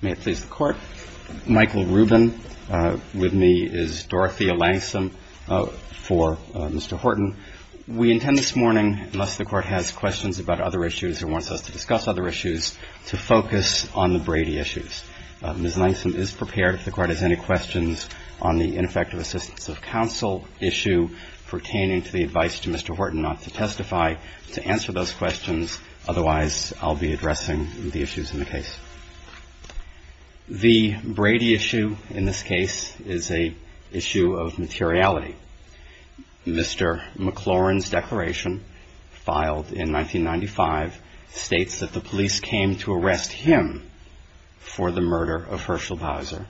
May it please the Court. Michael Rubin. With me is Dorothea Langsam for Mr. Horton. We intend this morning, unless the Court has questions about other issues or wants us to discuss other issues, to focus on the Brady issues. Ms. Langsam is prepared, if the Court has any questions, on the ineffective assistance of counsel issue pertaining to the advice to Mr. Horton not to testify, to answer those questions. Otherwise, I'll be addressing the issues in the case. The Brady issue in this case is an issue of materiality. Mr. McLaurin's declaration, filed in 1995, states that the police came to arrest him for the murder of Herschel Bowser,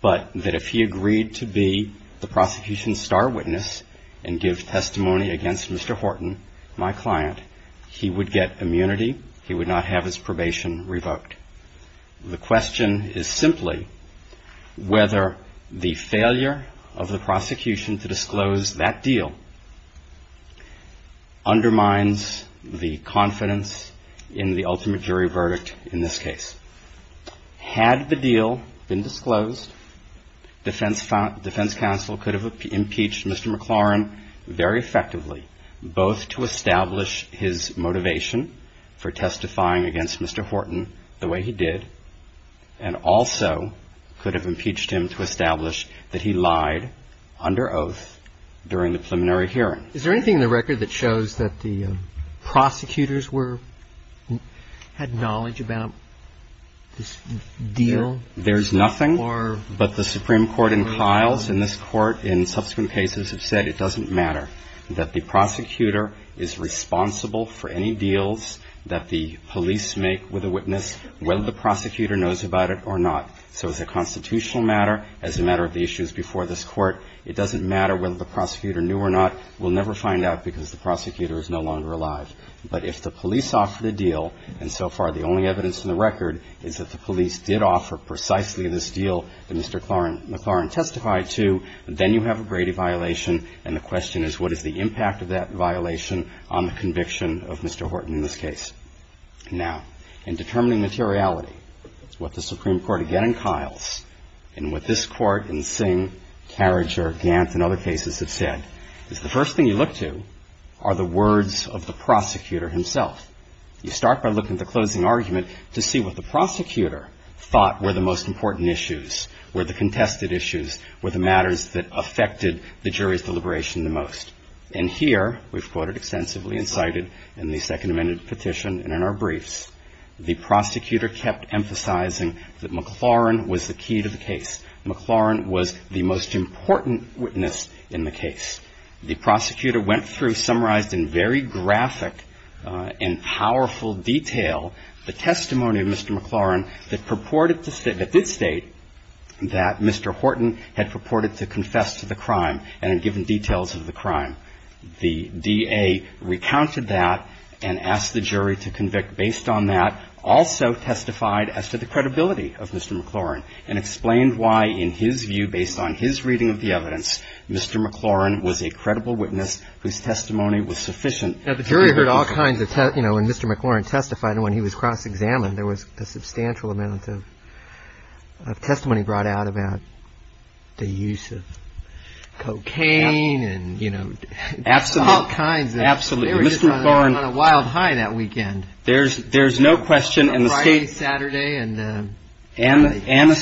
but that if he agreed to be the prosecution's star witness and give testimony against Mr. Horton, my client, he would get immunity, he would not have his probation revoked. The question is simply whether the failure of the prosecution to disclose that deal undermines the confidence in the ultimate jury verdict in this case. Had the deal been disclosed, defense counsel could have impeached Mr. McLaurin very effectively, both to establish his motivation for testifying against Mr. Horton the way he did, and also could have impeached him to establish that he lied under oath during the preliminary hearing. Is there anything in the record that shows that the prosecutors were – had knowledge about this deal? There's nothing, but the Supreme Court and Kiles in this Court in subsequent cases have said it doesn't matter, that the prosecutor is responsible for any deals that the police make with a witness, whether the prosecutor knows about it or not. So as a constitutional matter, as a matter of the issues before this Court, it doesn't matter whether the prosecutor knew or not. We'll never find out because the prosecutor is no longer alive. But if the police offered a deal, and so far the only evidence in the record is that the police did offer precisely this deal that Mr. McLaurin testified to, then you have a Brady violation, and the question is what is the impact of that violation on the conviction of Mr. Horton in this case. Now, in determining materiality, what the Supreme Court again in Kiles, and what this Court in Singh, Carriger, Gant, and other cases have said, is the first thing you look to are the words of the prosecutor himself. You start by looking at the closing argument to see what the prosecutor thought were the most important issues, were the contested issues, were the matters that affected the jury's deliberation the most. And here, we've quoted extensively and cited in the Second Amendment petition and in our briefs, the prosecutor kept emphasizing that McLaurin was the key to the case. McLaurin was the most important witness in the case. The prosecutor went through, summarized in very graphic and powerful detail, the testimony of Mr. McLaurin that purported to state that Mr. Horton had purported to confess to the crime and had given details of the crime. The DA recounted that and asked the jury to convict based on that, also testified as to the credibility of Mr. McLaurin, and explained why, in his view, based on his reading of the evidence, Mr. McLaurin was a credible witness whose testimony was sufficient. Now, the jury heard all kinds of, you know, when Mr. McLaurin testified and when he was cross-examined, there was a substantial amount of testimony brought out about the use of cocaine and, you know, all kinds. Absolutely. They were just on a wild high that weekend. There's no question. On a Friday, Saturday. And the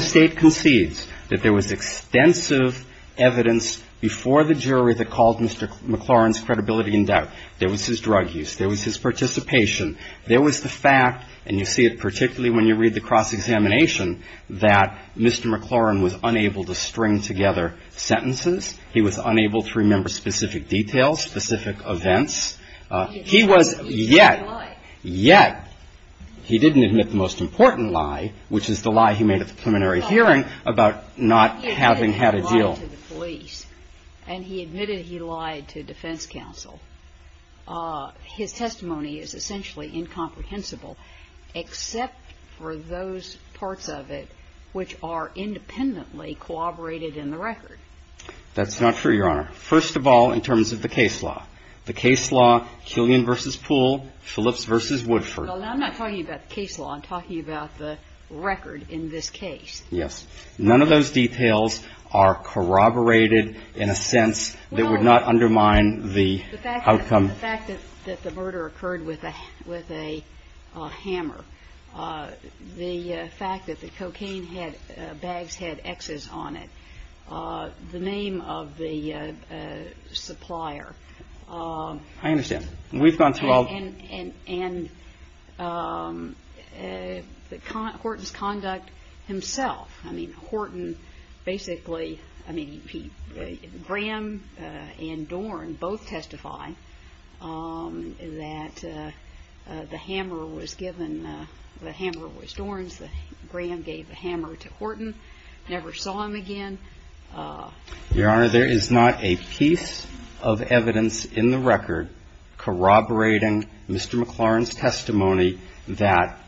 State concedes that there was extensive evidence before the jury that called Mr. McLaurin's credibility in doubt. There was his drug use. There was his participation. There was the fact, and you see it particularly when you read the cross-examination, that Mr. McLaurin was unable to string together sentences. He was unable to remember specific details, specific events. He was yet, yet, he didn't admit the most important lie, which is the lie he made at the preliminary hearing about not having had a deal. And he admitted he lied to defense counsel. His testimony is essentially incomprehensible except for those parts of it which are independently corroborated in the record. That's not true, Your Honor. First of all, in terms of the case law. The case law, Killian v. Poole, Phillips v. Woodford. Well, I'm not talking about the case law. I'm talking about the record in this case. Yes. None of those details are corroborated in a sense that would not undermine the outcome. The fact that the murder occurred with a hammer, the fact that the cocaine bags had X's on it, the name of the supplier. I understand. We've gone through all. And Horton's conduct himself. I mean, Horton basically, I mean, Graham and Dorn both testify that the hammer was given, the hammer was Dorn's. Graham gave the hammer to Horton, never saw him again. Your Honor, there is not a piece of evidence in the record corroborating Mr. McLaurin's testimony that,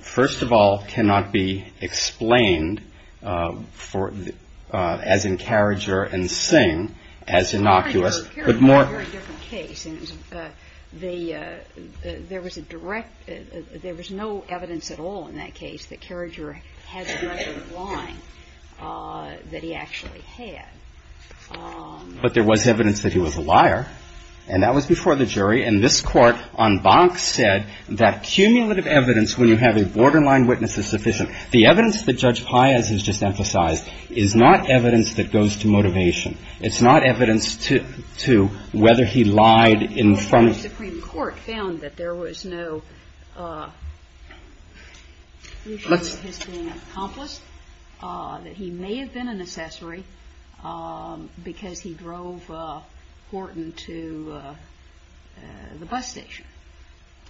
first of all, cannot be explained as in Carriager and Singh as innocuous, but more. Carriager had a very different case. And there was a direct – there was no evidence at all in that case that Carriager had the record of lying that he actually had. But there was evidence that he was a liar. And that was before the jury. And this Court on Bach said that cumulative evidence, when you have a borderline witness, is sufficient. The evidence that Judge Paez has just emphasized is not evidence that goes to motivation. It's not evidence to whether he lied in front of the jury. The Supreme Court found that there was no issue that has been accomplished, that he may have been an accessory because he drove Horton to the bus station.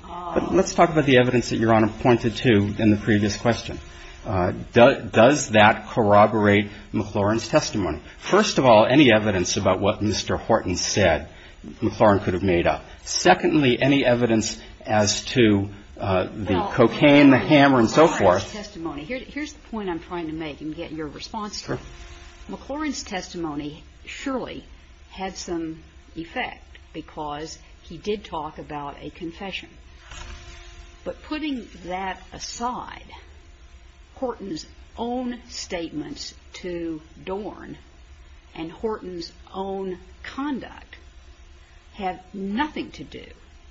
But let's talk about the evidence that Your Honor pointed to in the previous question. Does that corroborate McLaurin's testimony? First of all, any evidence about what Mr. Horton said McLaurin could have made up? Secondly, any evidence as to the cocaine, the hammer, and so forth? Well, McLaurin's testimony. Here's the point I'm trying to make and get your response to. McLaurin's testimony surely had some effect because he did talk about a confession. But putting that aside, Horton's own statements to Dorn and Horton's own conduct have nothing to do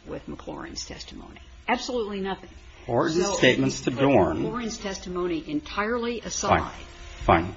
with McLaurin's testimony. Absolutely nothing. Horton's statements to Dorn. Fine.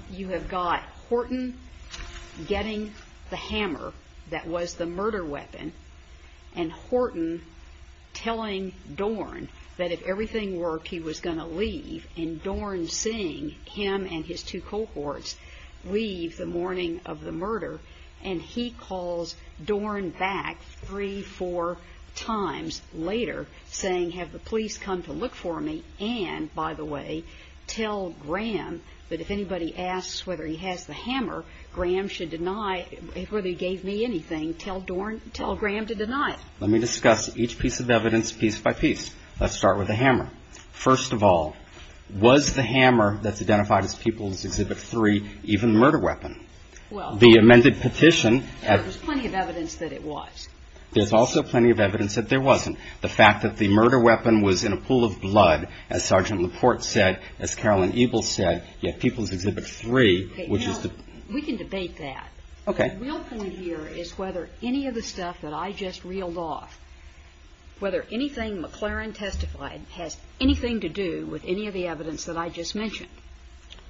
Fine. But if anybody asks whether he has the hammer, Graham should deny, whether he gave me anything, tell Dorn, tell Graham to deny it. Let me discuss each piece of evidence piece by piece. Let's start with the hammer. First of all, was the hammer that's identified as Pupils Exhibit 3 even the murder weapon? Well. The amended petition. There was plenty of evidence that it was. There's also plenty of evidence that there wasn't. The fact that the murder weapon was in a pool of blood, as Sergeant Laporte said, as Carolyn Ebel said, yet Pupils Exhibit 3, which is the. We can debate that. Okay. The real point here is whether any of the stuff that I just reeled off, whether anything McLaurin testified has anything to do with any of the evidence that I just mentioned.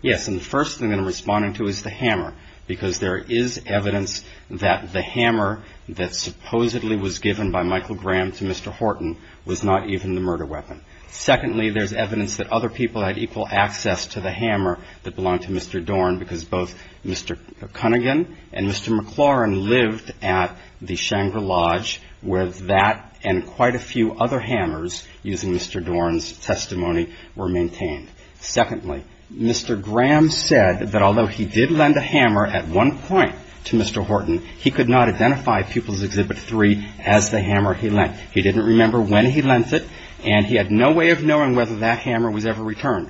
Yes. And the first thing that I'm responding to is the hammer, because there is evidence that the hammer that supposedly was given by Michael Graham to Mr. Horton was not even the murder weapon. Secondly, there's evidence that other people had equal access to the hammer that belonged to Mr. Dorn, because both Mr. Cunningham and Mr. McLaurin lived at the Shangri-La Lodge, where that and quite a few other hammers using Mr. Dorn's testimony were maintained. Secondly, Mr. Graham said that although he did lend a hammer at one point to Mr. Horton, he could not identify Pupils Exhibit 3 as the hammer he lent. He didn't remember when he lent it, and he had no way of knowing whether that hammer was ever returned.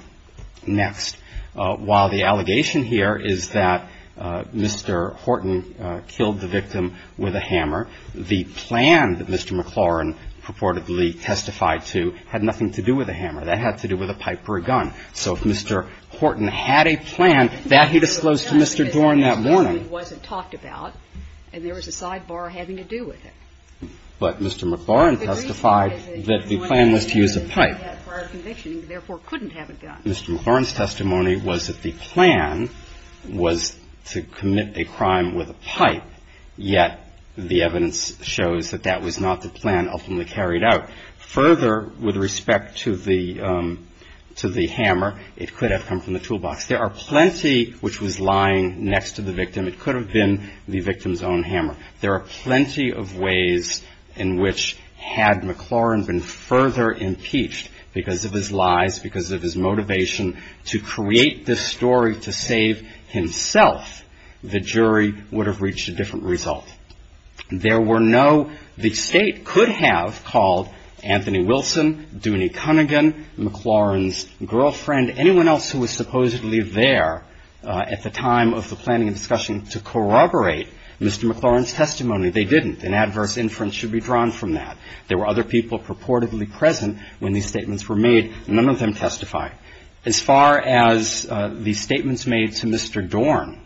Next. While the allegation here is that Mr. Horton killed the victim with a hammer, the plan that Mr. McLaurin testified was that the plan was to use a pipe. That had to do with a pipe or a gun. So if Mr. Horton had a plan that he disclosed to Mr. Dorn that morning. It wasn't talked about, and there was a sidebar having to do with it. But Mr. McLaurin testified that the plan was to use a pipe. Mr. McLaurin's testimony was that the plan was to commit a crime with a pipe, yet the evidence shows that that was not the plan ultimately carried out. Further, with respect to the hammer, it could have come from the toolbox. There are plenty which was lying next to the victim. It could have been the victim's own hammer. There are plenty of ways in which had McLaurin been further impeached because of his lies, because of his motivation to create this story to save himself, the jury would have reached a different result. There were no, the State could have called Anthony Wilson, Dooney Cunnigan, McLaurin's girlfriend, anyone else who was supposedly there at the time of the planning and discussion to corroborate Mr. McLaurin's testimony. They didn't. An adverse inference should be drawn from that. There were other people purportedly present when these statements were made. None of them testified. As far as the statements made to Mr. Dorn,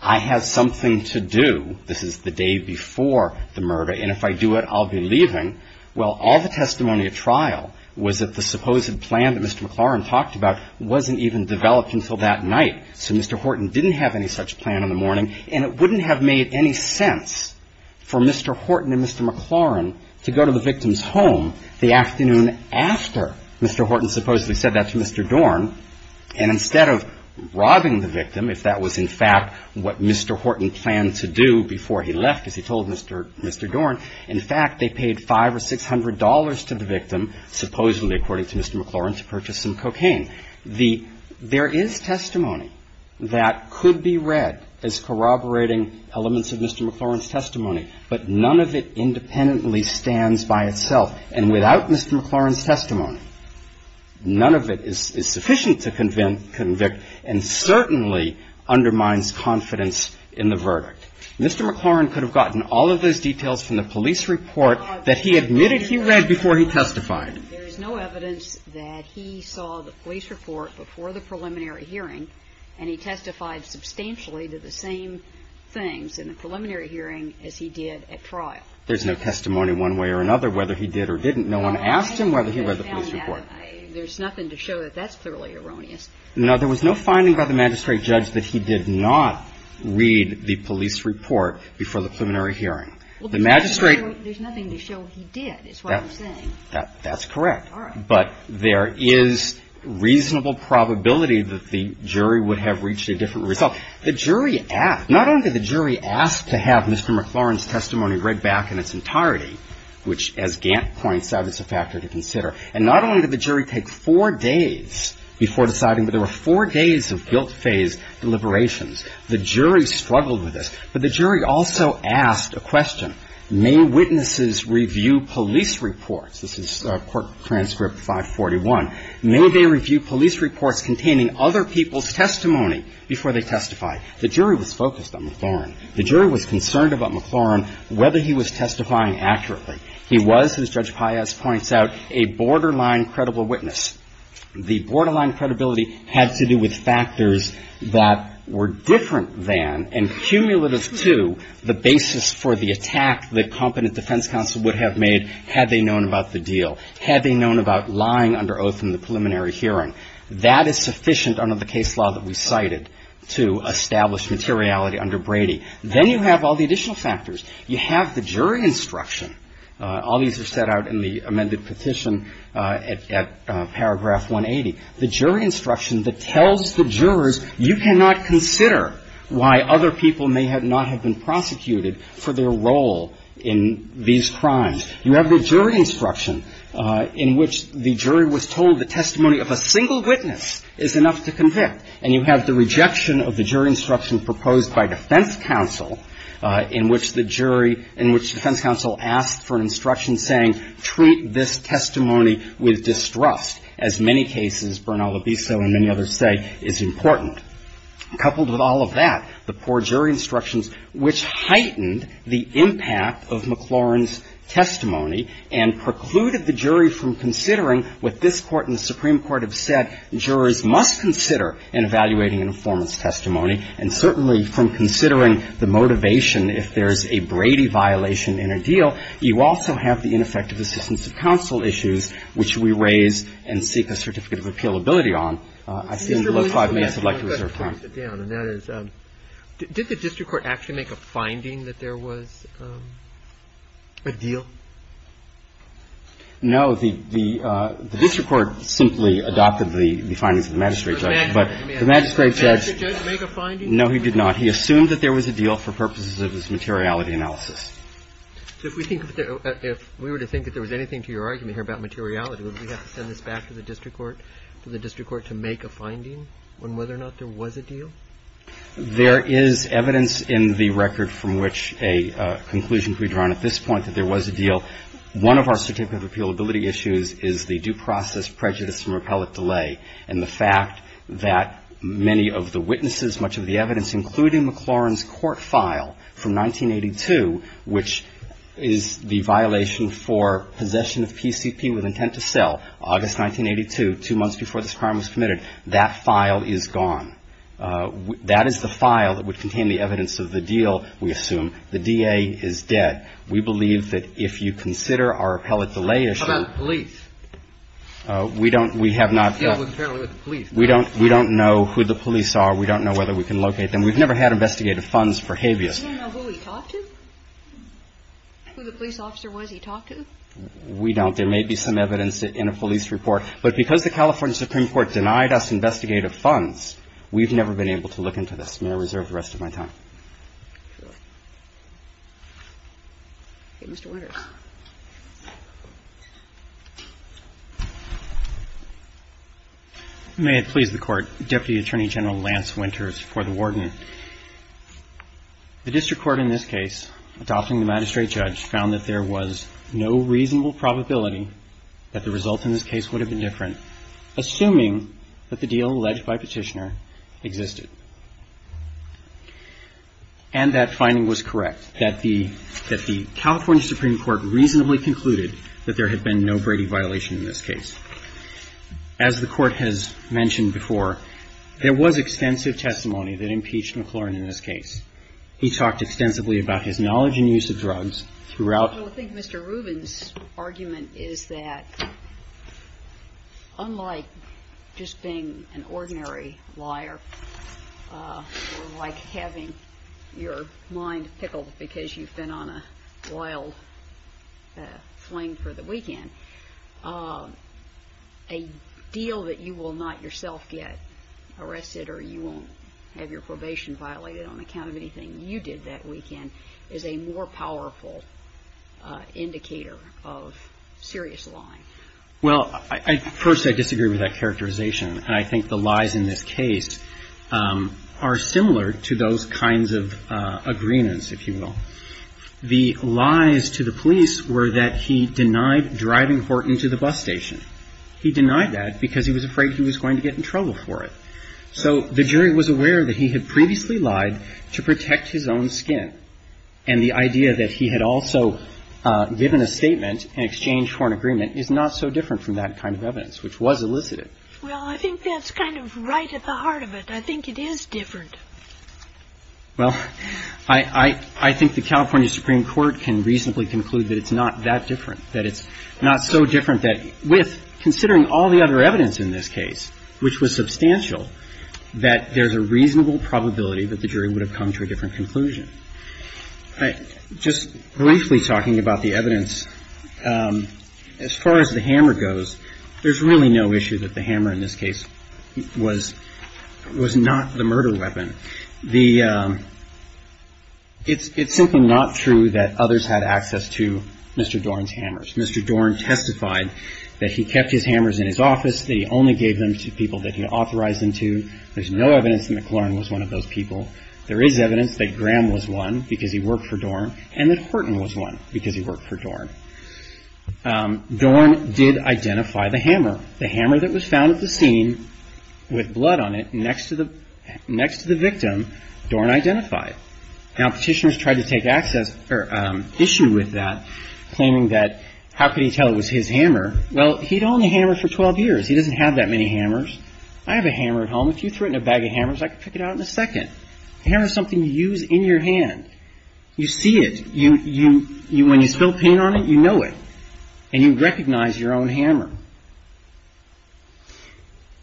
I have something to do, this is the day before the murder, and if I do it, I'll be leaving. Well, all the testimony at trial was that the supposed plan that Mr. McLaurin talked about wasn't even developed until that night. So Mr. Horton didn't have any such plan in the morning, and it wouldn't have made any sense for Mr. Horton and Mr. Dorn, and instead of robbing the victim, if that was in fact what Mr. Horton planned to do before he left, as he told Mr. Dorn, in fact, they paid $500 or $600 to the victim, supposedly according to Mr. McLaurin, to purchase some cocaine. The ‑‑ there is testimony that could be read as corroborating elements of Mr. McLaurin's testimony, but none of it independently stands by itself. And without Mr. McLaurin's testimony, none of it is sufficient to convict and certainly undermines confidence in the verdict. Mr. McLaurin could have gotten all of those details from the police report that he admitted he read before he testified. There is no evidence that he saw the police report before the preliminary hearing, and he testified substantially to the same things in the preliminary hearing as he did at trial. There's no testimony one way or another whether he did or didn't. No one asked him whether he read the police report. There's nothing to show that that's thoroughly erroneous. No. There was no finding by the magistrate judge that he did not read the police report before the preliminary hearing. The magistrate ‑‑ There's nothing to show he did, is what I'm saying. That's correct. All right. But there is reasonable probability that the jury would have reached a different result. The jury asked ‑‑ not only did the jury ask to have Mr. McLaurin's testimony read back in its entirety, which, as Gant points out, is a factor to consider, and not only did the jury take four days before deciding, but there were four days of guilt-phase deliberations. The jury struggled with this. But the jury also asked a question. May witnesses review police reports? This is Court Transcript 541. May they review police reports containing other people's testimony before they testify? The jury was focused on McLaurin. The jury was concerned about McLaurin, whether he was testifying accurately. He was, as Judge Paez points out, a borderline credible witness. The borderline credibility had to do with factors that were different than and cumulative to the basis for the attack that competent defense counsel would have made had they known about the deal. Had they known about lying under oath in the preliminary hearing. That is sufficient under the case law that we cited to establish materiality under Brady. Then you have all the additional factors. You have the jury instruction. All these are set out in the amended petition at paragraph 180. The jury instruction that tells the jurors you cannot consider why other people may not have been prosecuted for their role in these crimes. You have the jury instruction in which the jury was told the testimony of a single witness is enough to convict. And you have the rejection of the jury instruction proposed by defense counsel in which the jury, in which defense counsel asked for an instruction saying, treat this testimony with distrust, as many cases, Bernal Abiso and many others say, is important. Coupled with all of that, the poor jury instructions, which heightened the impact of McLaurin's testimony and precluded the jury from considering what this Court and the Supreme Court have said jurors must consider in evaluating an informant's testimony, and certainly from considering the motivation if there's a Brady violation in a deal. You also have the ineffective assistance of counsel issues, which we raise and seek a certificate of appealability on. I've seen below five minutes. I'd like to reserve time. I'm going to break it down. And that is, did the district court actually make a finding that there was a deal? No. The district court simply adopted the findings of the magistrate judge. But the magistrate judge — Did the magistrate judge make a finding? No, he did not. He assumed that there was a deal for purposes of his materiality analysis. So if we think that — if we were to think that there was anything to your argument here about materiality, would we have to send this back to the district court, to the There is evidence in the record from which a conclusion can be drawn at this point that there was a deal. One of our certificate of appealability issues is the due process prejudice and repellent delay, and the fact that many of the witnesses, much of the evidence, including McLaurin's court file from 1982, which is the violation for possession of PCP with intent to sell, August 1982, two months before this crime was committed, that file is gone. That is the file that would contain the evidence of the deal, we assume. The DA is dead. We believe that if you consider our appellate delay issue — How about the police? We don't — we have not — Yeah, apparently with the police. We don't know who the police are. We don't know whether we can locate them. We've never had investigative funds for habeas. You don't know who he talked to? Who the police officer was he talked to? We don't. There may be some evidence in a police report. But because the California Supreme Court denied us investigative funds, we've never been able to look into this. May I reserve the rest of my time? Sure. Okay, Mr. Winters. May it please the Court. Deputy Attorney General Lance Winters for the Warden. The district court in this case, adopting the magistrate judge, found that there was no reasonable probability that the results in this case would have been different, assuming that the deal alleged by Petitioner existed. And that finding was correct, that the California Supreme Court reasonably concluded that there had been no Brady violation in this case. As the Court has mentioned before, there was extensive testimony that impeached McLaurin in this case. He talked extensively about his knowledge and use of drugs throughout — Unlike just being an ordinary liar, or like having your mind pickled because you've been on a wild fling for the weekend, a deal that you will not yourself get arrested or you won't have your probation violated on account of anything you did that weekend is a more powerful indicator of serious lying. Well, first, I disagree with that characterization. I think the lies in this case are similar to those kinds of agreements, if you will. The lies to the police were that he denied driving Horton to the bus station. He denied that because he was afraid he was going to get in trouble for it. So the jury was aware that he had previously lied to protect his own skin. And the idea that he had also given a statement in exchange for an agreement is not so different from that kind of evidence, which was elicited. Well, I think that's kind of right at the heart of it. I think it is different. Well, I think the California Supreme Court can reasonably conclude that it's not that different, that it's not so different that with considering all the other evidence in this case, which was substantial, that there's a reasonable probability that the jury would have come to a different conclusion. Just briefly talking about the evidence, as far as the hammer goes, there's really no issue that the hammer in this case was not the murder weapon. It's simply not true that others had access to Mr. Dorn's hammers. Mr. Dorn testified that he kept his hammers in his office, that he only gave them to people that he authorized him to. There's no evidence that McLaurin was one of those people. There is evidence that Graham was one, because he worked for Dorn, and that Horton was one, because he worked for Dorn. Dorn did identify the hammer. The hammer that was found at the scene with blood on it next to the victim, Dorn identified. Now, petitioners tried to take issue with that, claiming that how could he tell it was his hammer? Well, he'd owned a hammer for 12 years. He doesn't have that many hammers. I have a hammer at home. If you threw it in a bag of hammers, I could pick it out in a second. A hammer is something you use in your hand. You see it. When you spill paint on it, you know it, and you recognize your own hammer.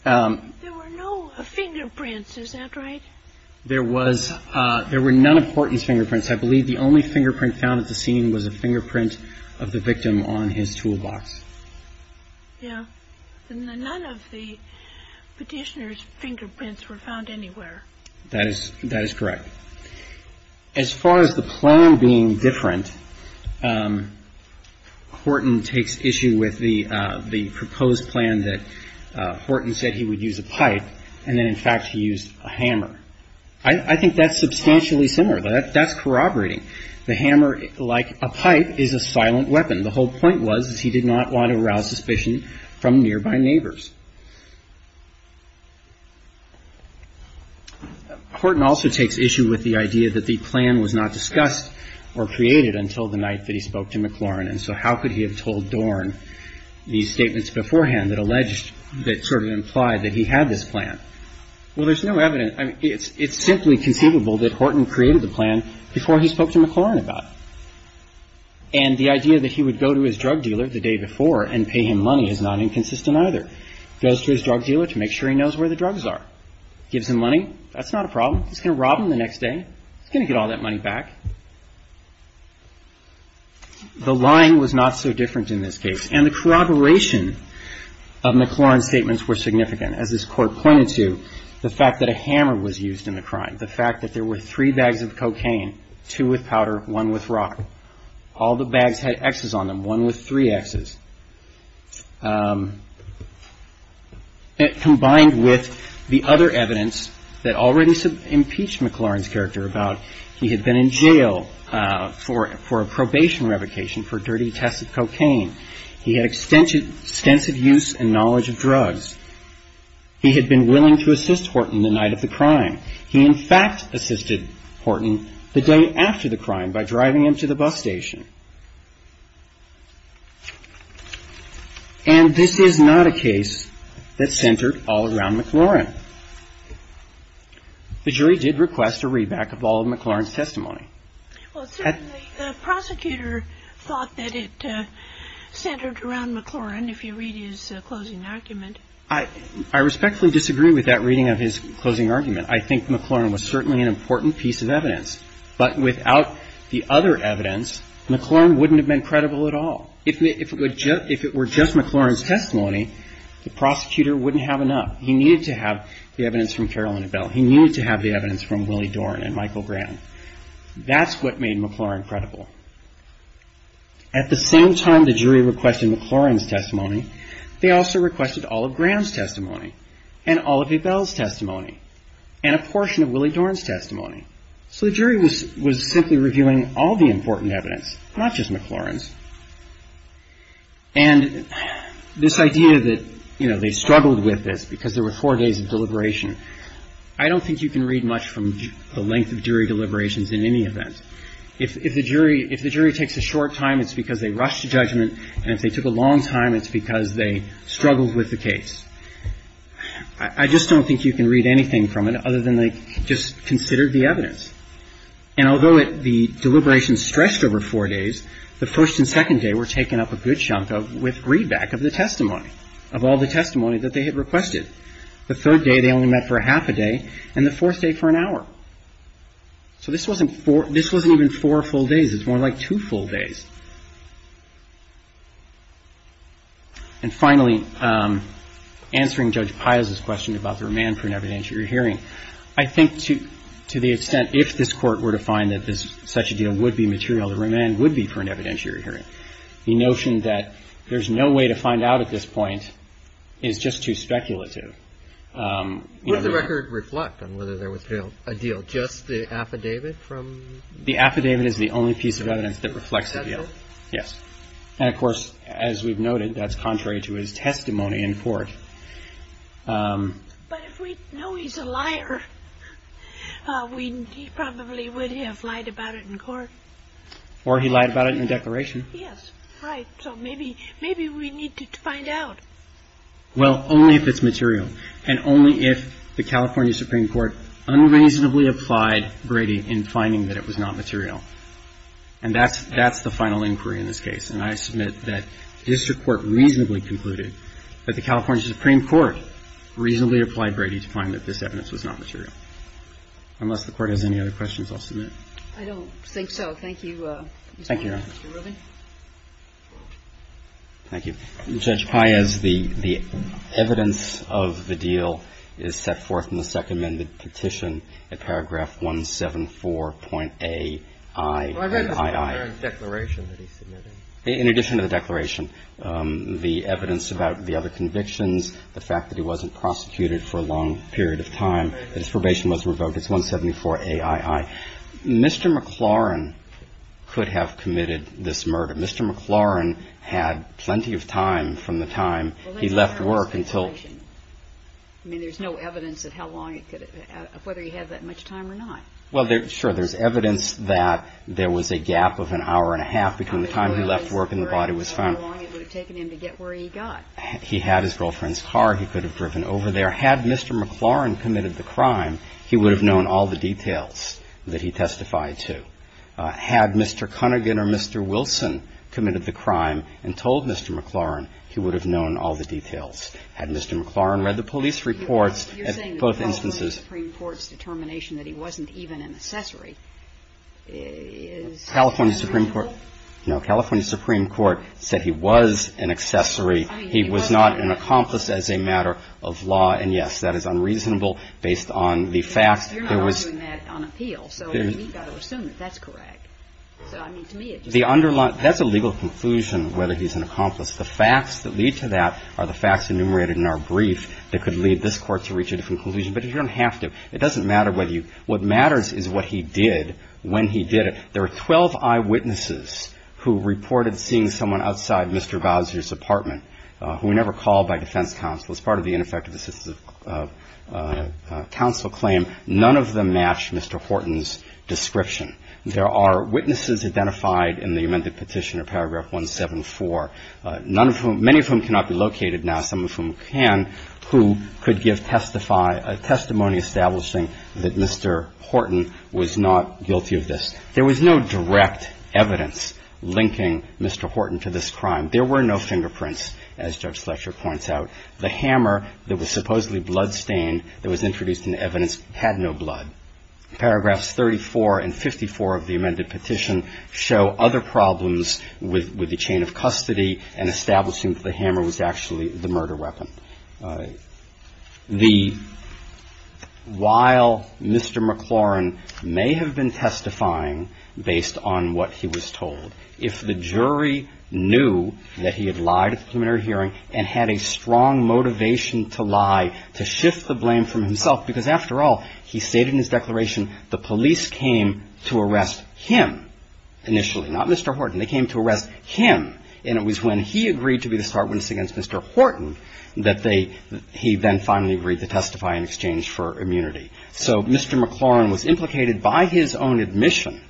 There were no fingerprints, is that right? There were none of Horton's fingerprints. I believe the only fingerprint found at the scene was a fingerprint of the victim on his toolbox. Yeah. None of the petitioner's fingerprints were found anywhere. That is correct. As far as the plan being different, Horton takes issue with the proposed plan that Horton said he would use a pipe, and then, in fact, he used a hammer. I think that's substantially similar. That's corroborating. The hammer, like a pipe, is a silent weapon. The whole point was that he did not want to arouse suspicion from nearby neighbors. Horton also takes issue with the idea that the plan was not discussed or created until the night that he spoke to McLaurin, and so how could he have told Dorn these statements beforehand that alleged that sort of implied that he had this plan? Well, there's no evidence. It's simply conceivable that Horton created the plan before he spoke to McLaurin about it, and the idea that he would go to his drug dealer the day before and pay him money is not inconsistent either. Goes to his drug dealer to make sure he knows where the drugs are. Gives him money. That's not a problem. He's going to rob him the next day. He's going to get all that money back. The line was not so different in this case, and the corroboration of McLaurin's statements were significant. As this Court pointed to, the fact that a hammer was used in the crime, the fact that there were three bags of cocaine, two with powder, one with rock. All the bags had X's on them, one with three X's. Combined with the other evidence that already impeached McLaurin's character about he had been in jail for a probation revocation for dirty tests of cocaine. He had extensive use and knowledge of drugs. He had been willing to assist Horton the night of the crime. He, in fact, assisted Horton the day after the crime by driving him to the bus station. And this is not a case that centered all around McLaurin. The jury did request a read-back of all of McLaurin's testimony. Well, certainly the prosecutor thought that it centered around McLaurin, if you read his closing argument. I respectfully disagree with that reading of his closing argument. I think McLaurin was certainly an important piece of evidence. But without the other evidence, McLaurin wouldn't have been credible at all. If it were just McLaurin's testimony, the prosecutor wouldn't have enough. He needed to have the evidence from Carolyn and Bill. He needed to have the evidence from Willie Doran and Michael Graham. That's what made McLaurin credible. At the same time the jury requested McLaurin's testimony, they also requested all of Graham's testimony and all of Abel's testimony and a portion of Willie Doran's testimony. So the jury was simply reviewing all the important evidence, not just McLaurin's. And this idea that, you know, they struggled with this because there were four days of deliberation, I don't think you can read much from the length of jury deliberations in any event. If the jury takes a short time, it's because they rushed to judgment, and if they took a long time, it's because they struggled with the case. I just don't think you can read anything from it other than they just considered the evidence. And although the deliberations stretched over four days, the first and second day were taken up a good chunk of with readback of the testimony, of all the testimony that they had requested. The third day they only met for a half a day, and the fourth day for an hour. So this wasn't even four full days. It's more like two full days. And finally, answering Judge Piles's question about the remand for an evidentiary hearing, I think to the extent if this Court were to find that such a deal would be material, the remand would be for an evidentiary hearing. The notion that there's no way to find out at this point is just too speculative. You know, the ---- What does the record reflect on whether there was a deal? Just the affidavit from ---- Yes. And, of course, as we've noted, that's contrary to his testimony in court. But if we know he's a liar, he probably would have lied about it in court. Or he lied about it in a declaration. Yes, right. So maybe we need to find out. Well, only if it's material, and only if the California Supreme Court unreasonably applied Brady in finding that it was not material. And that's the final inquiry in this case. And I submit that district court reasonably concluded that the California Supreme Court reasonably applied Brady to find that this evidence was not material. Unless the Court has any other questions, I'll submit. I don't think so. Thank you, Mr. Rubin. Thank you, Your Honor. Thank you. Judge Paez, the evidence of the deal is set forth in the Second Amendment Petition at paragraph 174.aiii. Well, I read the declaration that he submitted. In addition to the declaration, the evidence about the other convictions, the fact that he wasn't prosecuted for a long period of time, that his probation wasn't revoked, it's 174aiii. Mr. McLaurin could have committed this murder. Mr. McLaurin had plenty of time from the time he left work until he got there. I mean, there's no evidence of whether he had that much time or not. Well, sure. There's evidence that there was a gap of an hour and a half between the time he left work and the body was found. How long it would have taken him to get where he got. He had his girlfriend's car. He could have driven over there. Had Mr. McLaurin committed the crime, he would have known all the details that he testified to. Had Mr. Cunnigan or Mr. Wilson committed the crime and told Mr. McLaurin, he would have known all the details. Had Mr. McLaurin read the police reports at both instances. You're saying the California Supreme Court's determination that he wasn't even an accessory is reasonable? No. California Supreme Court said he was an accessory. I mean, he wasn't. He was not an accomplice as a matter of law. And, yes, that is unreasonable based on the fact there was. So we've got to assume that that's correct. So, I mean, to me, it just. That's a legal conclusion whether he's an accomplice. The facts that lead to that are the facts enumerated in our brief that could lead this court to reach a different conclusion. But you don't have to. It doesn't matter whether you. What matters is what he did when he did it. There were 12 eyewitnesses who reported seeing someone outside Mr. Bowser's apartment who were never called by defense counsel. It's part of the ineffective assistance of counsel claim. None of them matched Mr. Horton's description. There are witnesses identified in the amended petition of paragraph 174, none of whom. Many of whom cannot be located now. Some of whom can, who could give testimony establishing that Mr. Horton was not guilty of this. There was no direct evidence linking Mr. Horton to this crime. There were no fingerprints, as Judge Fletcher points out. The hammer that was supposedly bloodstained that was introduced in the evidence had no blood. Paragraphs 34 and 54 of the amended petition show other problems with the chain of custody and establishing that the hammer was actually the murder weapon. The – while Mr. McLaurin may have been testifying based on what he was told, if the jury knew that he had lied at the preliminary hearing and had a strong motivation to lie, to shift the blame from himself, because after all, he stated in his declaration, the police came to arrest him initially, not Mr. Horton. They came to arrest him. And it was when he agreed to be the start witness against Mr. Horton that they – he then finally agreed to testify in exchange for immunity. So Mr. McLaurin was implicated by his own admission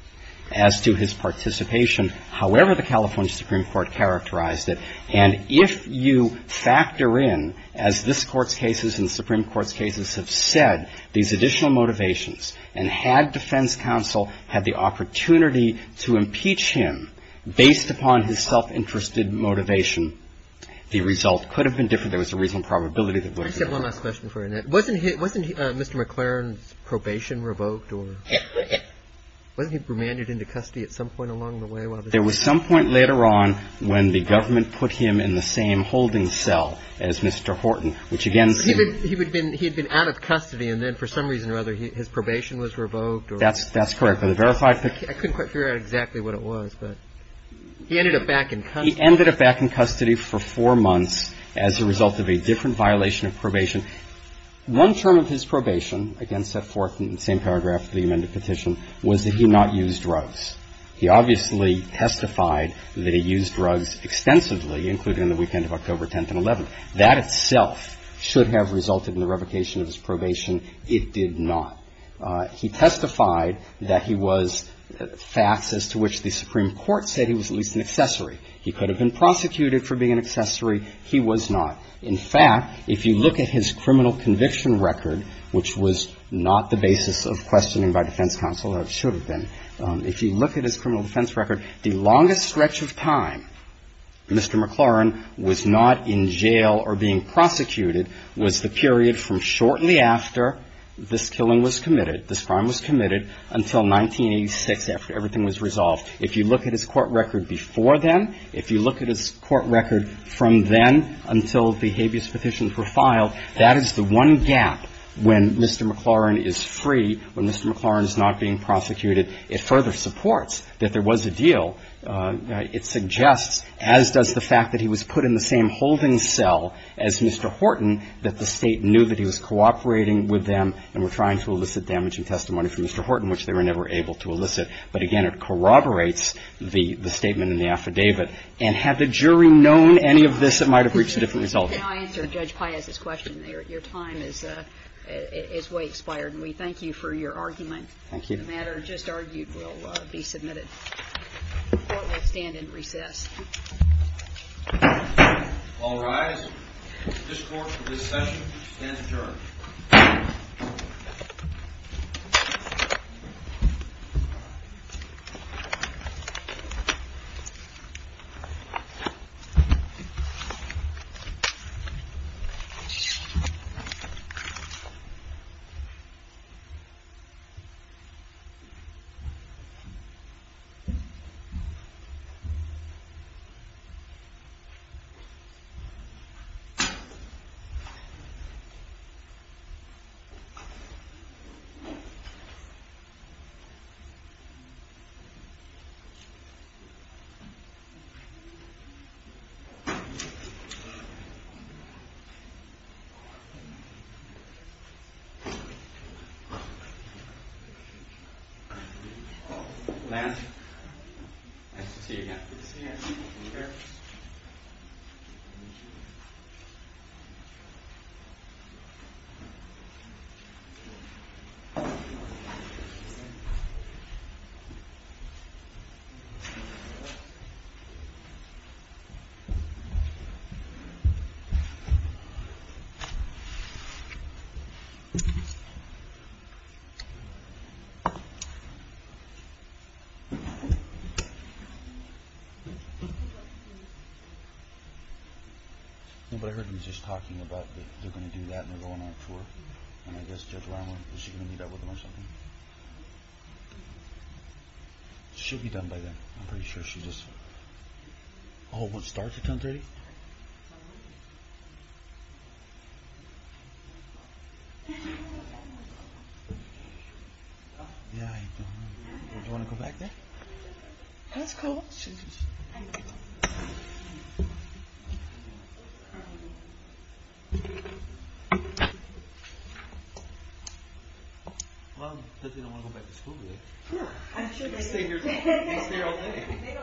as to his participation, however the California Supreme Court characterized it. And if you factor in, as this Court's cases and the Supreme Court's cases have said, these additional motivations, and had defense counsel had the opportunity to impeach him based upon his self-interested motivation, the result could have been different. I just have one last question for Annette. Wasn't he – wasn't Mr. McLaurin's probation revoked or – wasn't he remanded into custody at some point along the way? There was some point later on when the government put him in the same holding cell as Mr. Horton, which again – He had been out of custody and then for some reason or other his probation was revoked or – That's correct. I couldn't quite figure out exactly what it was, but he ended up back in custody. He ended up back in custody for four months as a result of a different violation of probation. One term of his probation, again set forth in the same paragraph of the amended petition, was that he not used drugs. He obviously testified that he used drugs extensively, including on the weekend of October 10th and 11th. That itself should have resulted in the revocation of his probation. It did not. He testified that he was – facts as to which the Supreme Court said he was at least an accessory. He could have been prosecuted for being an accessory. He was not. In fact, if you look at his criminal conviction record, which was not the basis of questioning by defense counsel, or it should have been, if you look at his criminal defense record, the longest stretch of time Mr. McLaurin was not in jail or being prosecuted was the period from shortly after this killing was committed, this crime was committed, until 1986 after everything was resolved. If you look at his court record before then, if you look at his court record from then until the habeas petitions were filed, that is the one gap when Mr. McLaurin is free, when Mr. McLaurin is not being prosecuted. It further supports that there was a deal. It suggests, as does the fact that he was put in the same holding cell as Mr. Horton, that the State knew that he was cooperating with them and were trying to elicit damaging testimony from Mr. Horton, which they were never able to elicit. But again, it corroborates the statement in the affidavit. And had the jury known any of this, it might have reached a different result. Can I answer Judge Paez's question there? Your time is way expired, and we thank you for your argument. Thank you. The matter just argued will be submitted. The Court will stand in recess. All rise. This Court for this session stands adjourned. adjourned. Nobody heard me just talking about that they're going to do that and they're going on tour. And I guess Judge Lama, is she going to meet up with them or something? She'll be done by then. I'm pretty sure she just... Oh, it starts at 1030? Yeah, I know. Do you want to go back there? That's cool. All right. Well, I bet they don't want to go back to school today. I'm sure they do. They stay here all day. They don't mind staying here. Thank you.